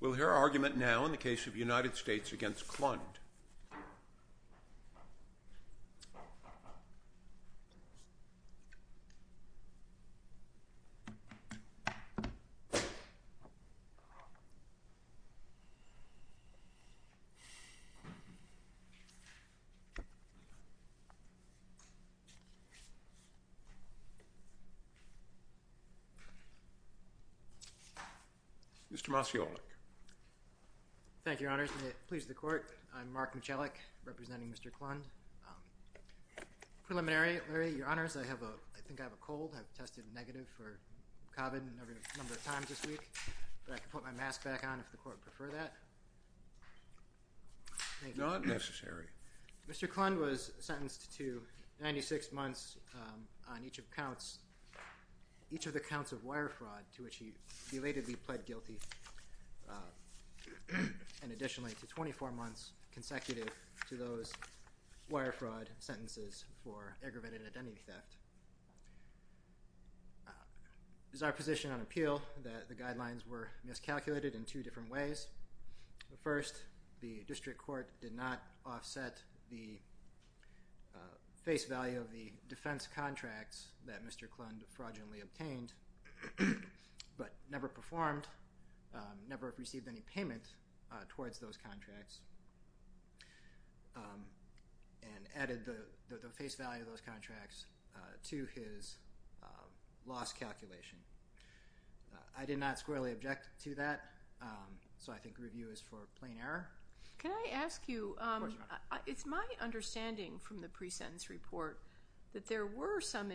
We'll hear argument now in the case of United States v. Klund. Mr. Klund was sentenced to 96 months on each of the counts of wire fraud to which he belatedly pled guilty, and additionally to 24 months consecutive to those wire fraud sentences for aggravated identity theft. It is our position on appeal that the guidelines were miscalculated in two different ways. First, the district court did not offset the face value of the never received any payment towards those contracts and added the face value of those contracts to his loss calculation. I did not squarely object to that, so I think review is for plain error. Can I ask you, it's my understanding from the pre-sentence report that there were some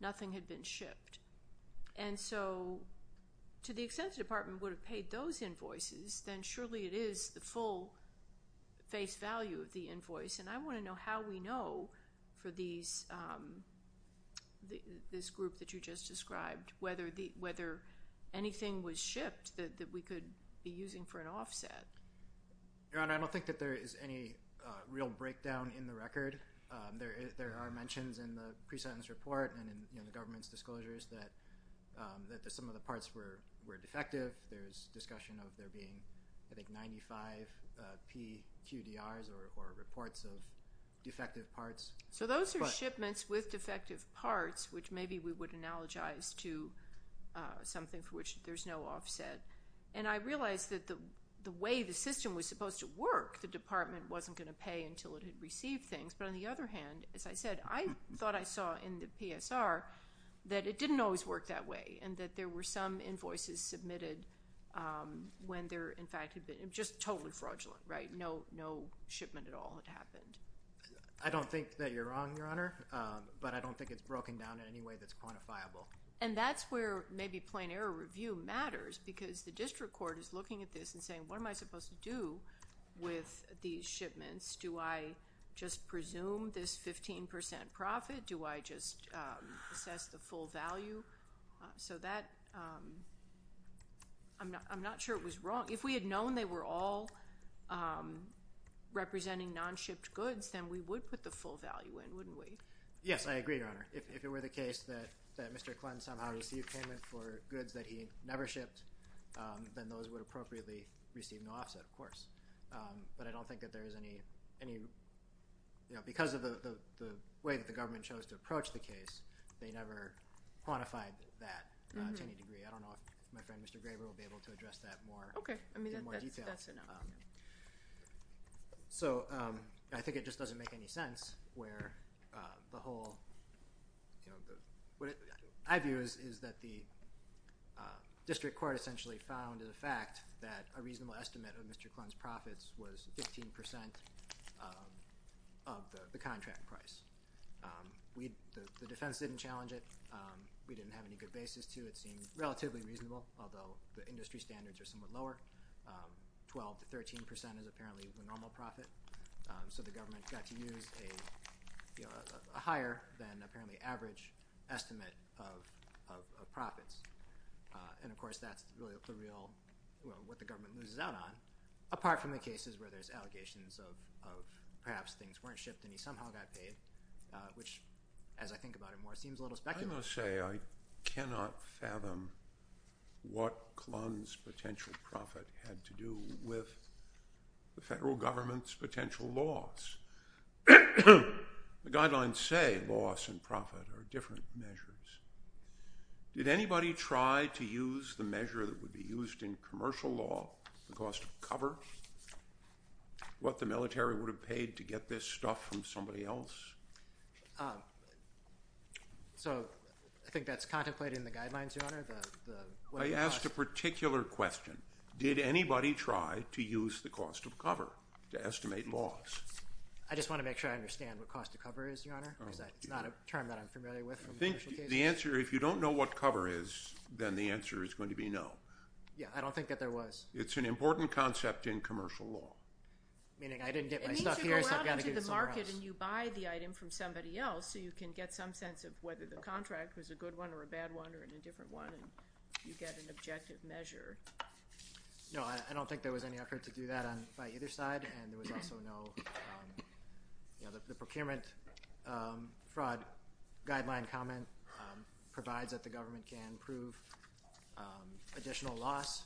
nothing had been shipped, and so to the extent the department would have paid those invoices, then surely it is the full face value of the invoice, and I want to know how we know for this group that you just described whether anything was shipped that we could be using for an offset. Your Honor, I don't think that there is any real breakdown in the record. There are mentions in the pre-sentence report and in the government's disclosures that some of the parts were defective. There is discussion of there being, I think, 95 PQDRs or reports of defective parts. So those are shipments with defective parts, which maybe we would analogize to something for which there is no offset, and I realize that the way the system was supposed to work, the department wasn't going to pay until it had received things, but on the other hand, as I said, I thought I saw in the PSR that it didn't always work that way and that there were some invoices submitted when there, in fact, had been just totally fraudulent, right? No shipment at all had happened. I don't think that you're wrong, Your Honor, but I don't think it's broken down in any way that's quantifiable. And that's where maybe plain error review matters because the district court is looking at this and saying, what am I supposed to do with these shipments? Do I just presume this 15% profit? Do I just assess the full value? So that, I'm not sure it was wrong. If we had known they were all representing non-shipped goods, then we would put the full value in, wouldn't we? Yes, I agree, Your Honor. If it were the case that Mr. Clinton somehow received payment for goods that he never shipped, then those would appropriately receive no offset, of course. But I don't think that there is any, because of the way that the government chose to approach the case, they never quantified that to any degree. I don't know if my friend Mr. Graber will be able to address that more in more detail. Okay. I mean, that's enough. So I think it just doesn't make any sense where the whole, what I view is that the district court essentially found the fact that a reasonable estimate of Mr. Clinton's profits was 15% of the contract price. The defense didn't challenge it. We didn't have any good basis to it. It seemed relatively reasonable, although the industry standards are somewhat lower. 12% to 13% is apparently the normal profit. So the government got to use a higher than apparently average estimate of profits. And, of course, that's really what the government loses out on, apart from the cases where there's allegations of perhaps things weren't shipped and he somehow got paid, which, as I think about it more, seems a little speculative. I'm going to say I cannot fathom what Clinton's potential profit had to do with the federal government's potential loss. The guidelines say loss and profit are different measures. Did anybody try to use the measure that would be used in commercial law, the cost of cover, what the military would have paid to get this stuff from somebody else? So I think that's contemplated in the guidelines, Your Honor. I asked a particular question. Did anybody try to use the cost of cover to estimate loss? I just want to make sure I understand what cost of cover is, Your Honor, because that's not a term that I'm familiar with from the commercial case. I think the answer, if you don't know what cover is, then the answer is going to be no. Yeah, I don't think that there was. It's an important concept in commercial law. Meaning I didn't get my stuff here, so I've got to get it somewhere else. You take it and you buy the item from somebody else so you can get some sense of whether the contract was a good one or a bad one or an indifferent one, and you get an objective measure. No, I don't think there was any effort to do that by either side, and there was also no procurement fraud guideline comment provides that the government can prove additional loss,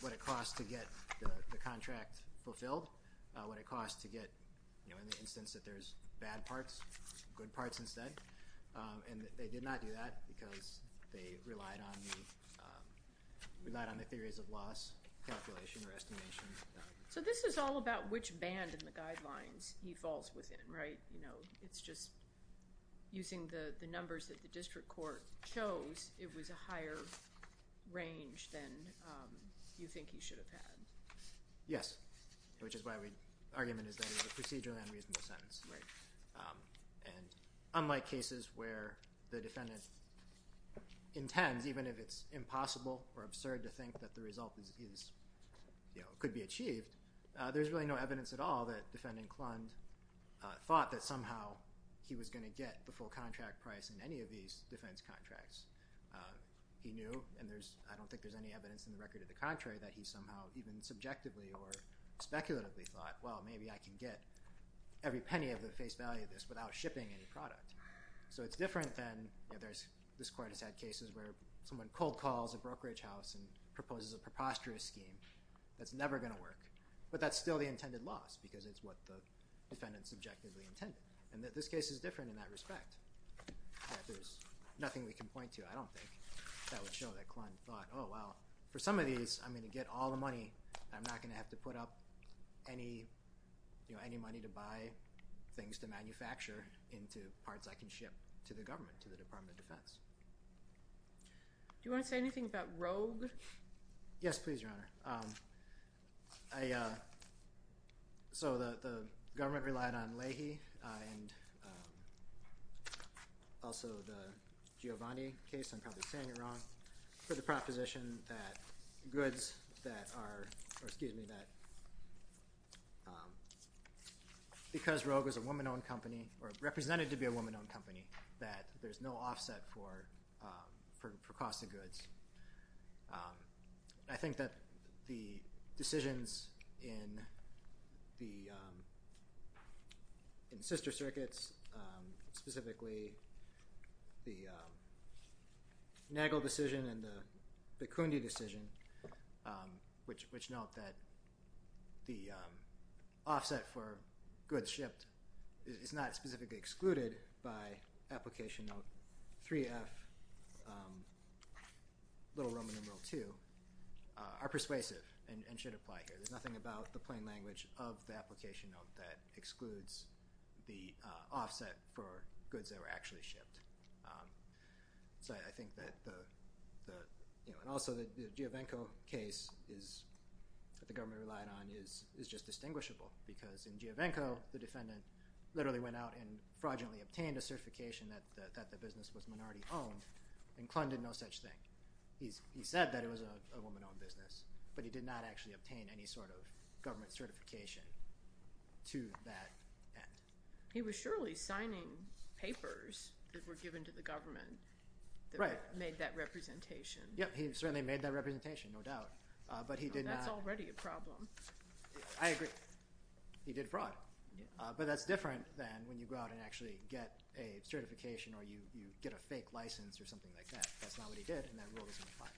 what it costs to get the contract fulfilled, what it costs to get, you know, in the instance that there's bad parts, good parts instead, and they did not do that because they relied on the theories of loss calculation or estimation. So this is all about which band in the guidelines he falls within, right? You know, it's just using the numbers that the district court chose, it was a higher range than you think he should have had. Yes, which is why the argument is that it was a procedurally unreasonable sentence, right? And unlike cases where the defendant intends, even if it's impossible or absurd to think that the result could be achieved, there's really no evidence at all that Defendant Klund thought that somehow he was going to get the full contract price in any of these defense contracts. He knew, and I don't think there's any evidence in the record of the contrary, that he somehow even subjectively or speculatively thought, well, maybe I can get every penny of the face value of this without shipping any product. So it's different than, you know, this court has had cases where someone cold calls a brokerage house and proposes a preposterous scheme that's never going to work, but that's still the intended loss because it's what the defendant subjectively intended, and that this case is different in that respect. There's nothing we can point to, I don't think, that would show that Klund thought, oh, well, for some of these, I'm going to get all the money, and I'm not going to have to put up any money to buy things to manufacture into parts I can ship to the government, to the Department of Defense. Do you want to say anything about Rogue? Yes, please, Your Honor. So the government relied on Leahy and also the Giovanni case, I'm probably saying it wrong, for the proposition that because Rogue is a woman-owned company or represented to be a woman-owned company, that there's no offset for cost of goods. I think that the decisions in the sister circuits, specifically the Nagel decision and the Bikundi decision, which note that the offset for goods shipped is not specifically excluded by Application Note 3F, little Roman numeral 2, are persuasive and should apply here. There's nothing about the plain language of the Application Note that excludes the offset for goods that were actually shipped. So I think that the – and also the Giovenco case that the government relied on is just distinguishable because in Giovenco, the defendant literally went out and fraudulently obtained a certification that the business was minority-owned and Klund did no such thing. He said that it was a woman-owned business, but he did not actually obtain any sort of government certification to that end. He was surely signing papers that were given to the government that made that representation. Yes, he certainly made that representation, no doubt, but he did not – That's already a problem. I agree. He did fraud. But that's different than when you go out and actually get a certification or you get a fake license or something like that. That's not what he did, and that rule doesn't apply.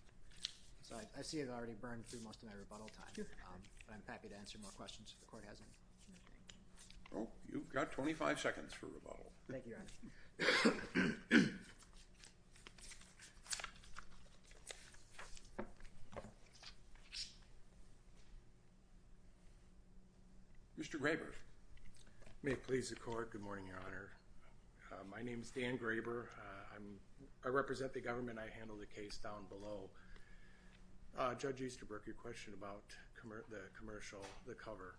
So I see I've already burned through most of my rebuttal time, but I'm happy to answer more questions if the Court has any. Well, you've got 25 seconds for rebuttal. Thank you, Your Honor. Mr. Graber. May it please the Court. Good morning, Your Honor. My name is Dan Graber. I represent the government. I handle the case down below. Judge Easterbrook, your question about the commercial, the cover,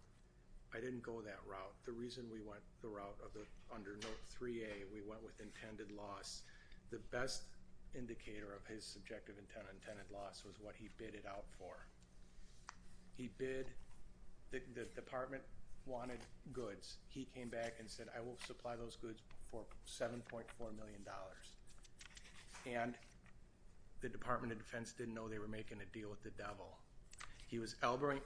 I didn't go that route. The reason we went the route of the under Note 3A, we went with intended loss. The best indicator of his subjective intended loss was what he bid it out for. He bid, the department wanted goods. He came back and said, I will supply those goods for $7.4 million. And the Department of Defense didn't know they were making a deal with the devil. He was elbowing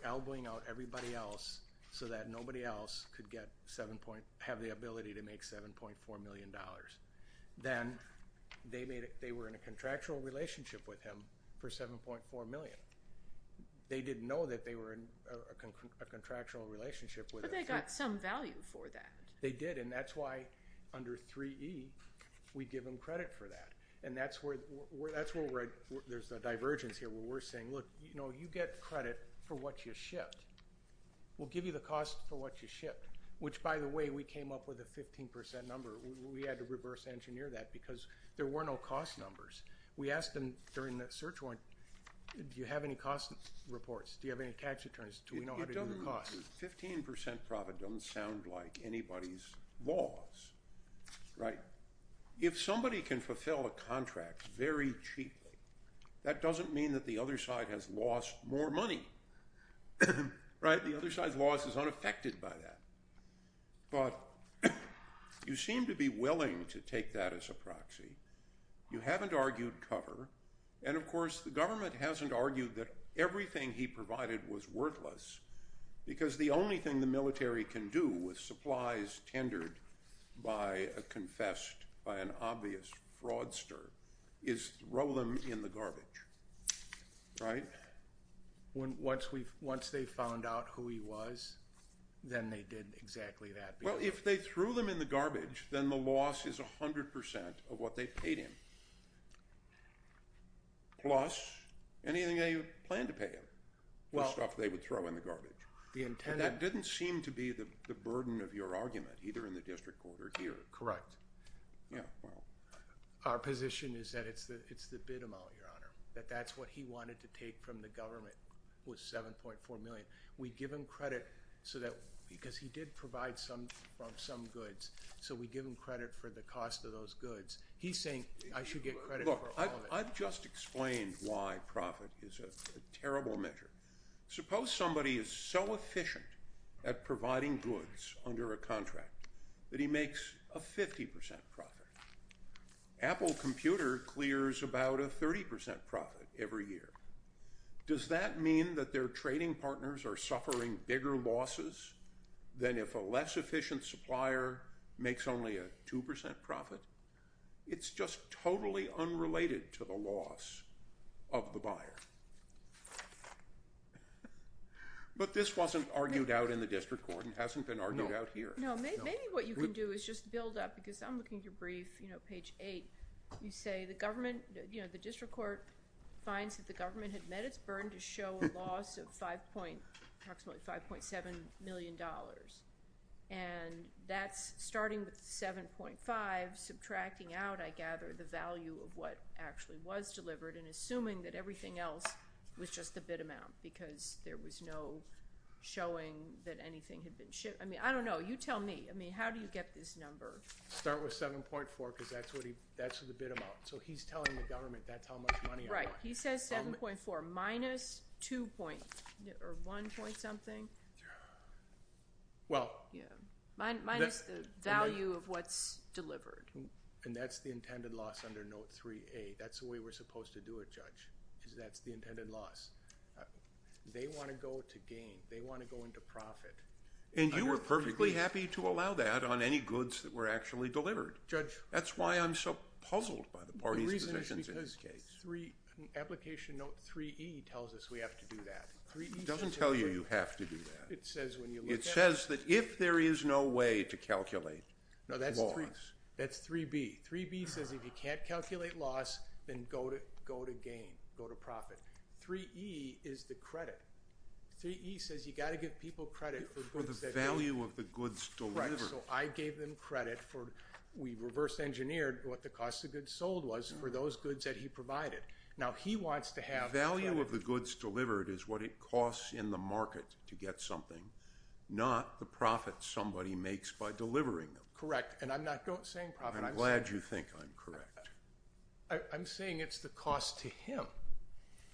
out everybody else so that nobody else could get 7 point, have the ability to make $7.4 million. Then they were in a contractual relationship with him for 7.4 million. They didn't know that they were in a contractual relationship with him. But they got some value for that. They did, and that's why under 3E we give them credit for that. And that's where there's a divergence here where we're saying, look, you get credit for what you shipped. We'll give you the cost for what you shipped, which, by the way, we came up with a 15% number. We had to reverse engineer that because there were no cost numbers. We asked them during the search warrant, do you have any cost reports? Do you have any tax returns? Do we know how to do the cost? 15% profit doesn't sound like anybody's loss, right? If somebody can fulfill a contract very cheaply, that doesn't mean that the other side has lost more money, right? The other side's loss is unaffected by that. But you seem to be willing to take that as a proxy. You haven't argued cover, and, of course, the government hasn't argued that everything he provided was worthless because the only thing the military can do with supplies tendered by a confessed, by an obvious fraudster, is throw them in the garbage, right? Once they found out who he was, then they did exactly that. Well, if they threw them in the garbage, then the loss is 100% of what they paid him, plus anything they planned to pay him, the stuff they would throw in the garbage. That didn't seem to be the burden of your argument, either in the district court or here. Correct. Yeah, well. Our position is that it's the bid amount, Your Honor, that that's what he wanted to take from the government was $7.4 million. We give him credit because he did provide some goods, so we give him credit for the cost of those goods. He's saying I should get credit for all of it. Look, I've just explained why profit is a terrible measure. Suppose somebody is so efficient at providing goods under a contract that he makes a 50% profit. Apple Computer clears about a 30% profit every year. Does that mean that their trading partners are suffering bigger losses than if a less efficient supplier makes only a 2% profit? It's just totally unrelated to the loss of the buyer. But this wasn't argued out in the district court and hasn't been argued out here. No, maybe what you can do is just build up, because I'm looking at your brief, you know, page 8. You say the government, you know, the district court finds that the government had met its burden to show a loss of approximately $5.7 million. And that's starting with 7.5, subtracting out, I gather, the value of what actually was delivered and assuming that everything else was just the bid amount because there was no showing that anything had been shipped. I mean, I don't know. You tell me. I mean, how do you get this number? Start with 7.4 because that's the bid amount. So he's telling the government that's how much money I got. Right. He says 7.4 minus 2.0 or 1.0 something. Well. Minus the value of what's delivered. And that's the intended loss under Note 3A. That's the way we're supposed to do it, Judge, is that's the intended loss. They want to go to gain. They want to go into profit. And you were perfectly happy to allow that on any goods that were actually delivered. Judge. That's why I'm so puzzled by the parties' positions in this case. Application Note 3E tells us we have to do that. It doesn't tell you you have to do that. It says when you look at it. It says that if there is no way to calculate loss. That's 3B. 3B says if you can't calculate loss, then go to gain, go to profit. 3E is the credit. 3E says you've got to give people credit for goods that you. For the value of the goods delivered. Correct. So I gave them credit for we reverse engineered what the cost of goods sold was for those goods that he provided. Now, he wants to have. The value of the goods delivered is what it costs in the market to get something. Not the profit somebody makes by delivering them. Correct. And I'm not saying profit. I'm glad you think I'm correct. I'm saying it's the cost to him.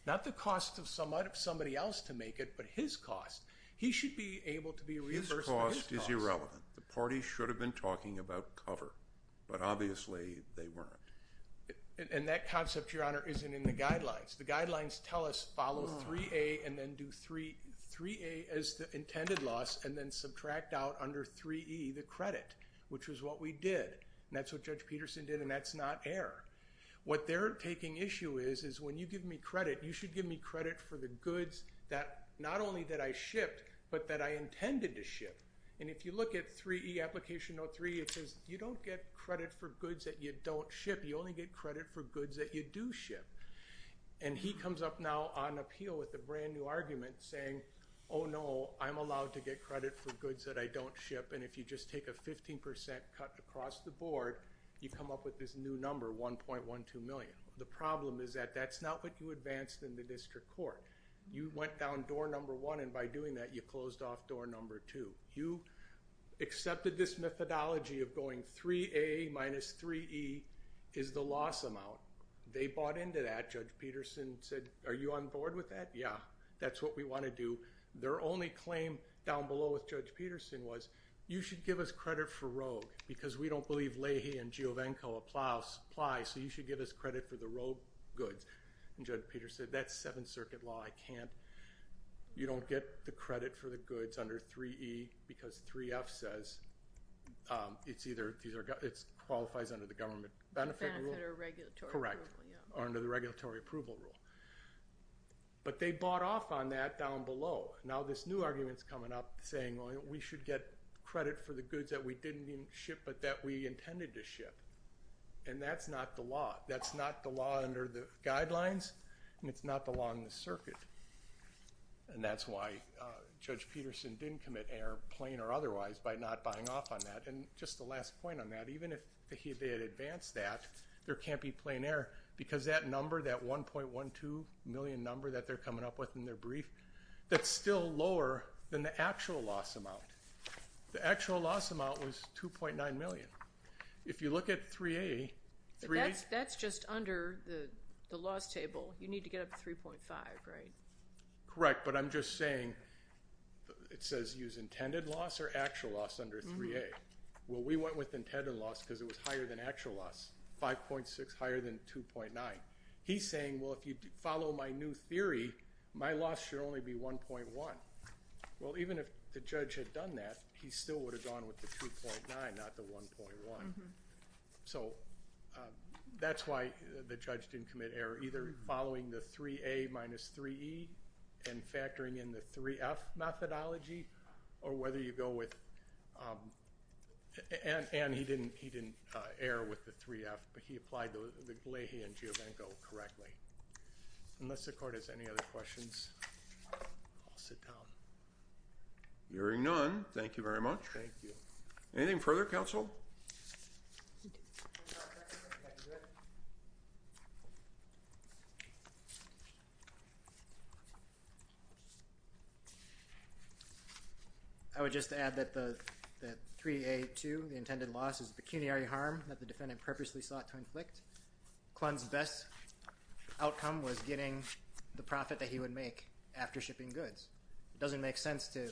Not the cost of somebody else to make it, but his cost. He should be able to be. His cost is irrelevant. The party should have been talking about cover, but obviously they weren't. And that concept, Your Honor, isn't in the guidelines. The guidelines tell us follow 3A and then do 3A as the intended loss and then subtract out under 3E the credit, which was what we did. And that's what Judge Peterson did, and that's not error. What they're taking issue is is when you give me credit, you should give me credit for the goods that not only that I shipped, but that I intended to ship. And if you look at 3E application 03, it says you don't get credit for goods that you don't ship. You only get credit for goods that you do ship. And he comes up now on appeal with a brand-new argument saying, oh, no, I'm allowed to get credit for goods that I don't ship. And if you just take a 15% cut across the board, you come up with this new number, 1.12 million. The problem is that that's not what you advanced in the district court. You went down door number one, and by doing that, you closed off door number two. You accepted this methodology of going 3A minus 3E is the loss amount. They bought into that. Judge Peterson said, are you on board with that? Yeah, that's what we want to do. Their only claim down below with Judge Peterson was you should give us credit for Rogue because we don't believe Leahy and Giovanko apply, so you should give us credit for the Rogue goods. And Judge Peterson said, that's Seventh Circuit law. I can't. You don't get the credit for the goods under 3E because 3F says it qualifies under the government benefit rule. Benefit or regulatory approval, yeah. Correct, or under the regulatory approval rule. But they bought off on that down below. Now this new argument is coming up saying, well, we should get credit for the goods that we didn't even ship but that we intended to ship. And that's not the law. That's not the law under the guidelines, and it's not the law in the circuit. And that's why Judge Peterson didn't commit error, plain or otherwise, by not buying off on that. And just a last point on that, even if he had advanced that, there can't be plain error because that number, that 1.12 million number that they're coming up with in their brief, that's still lower than the actual loss amount. The actual loss amount was 2.9 million. If you look at 3A. That's just under the loss table. You need to get up to 3.5, right? Correct, but I'm just saying it says use intended loss or actual loss under 3A. Well, we went with intended loss because it was higher than actual loss, 5.6 higher than 2.9. He's saying, well, if you follow my new theory, my loss should only be 1.1. Well, even if the judge had done that, he still would have gone with the 2.9, not the 1.1. So that's why the judge didn't commit error, either following the 3A minus 3E and factoring in the 3F methodology or whether you go with, and he didn't err with the 3F, but he applied the Leahy and Giovanko correctly. Unless the court has any other questions. I'll sit down. Hearing none, thank you very much. Thank you. Anything further, counsel? I would just add that the 3A.2, the intended loss, is pecuniary harm that the defendant purposely sought to inflict. Klund's best outcome was getting the profit that he would make after shipping goods. It doesn't make sense to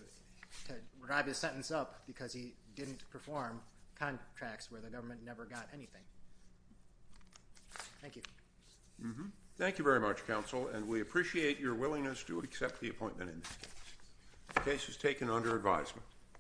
drive his sentence up because he didn't perform contracts where the government never got anything. Thank you. Thank you very much, counsel, and we appreciate your willingness to accept the appointment in this case. The case is taken under advisement.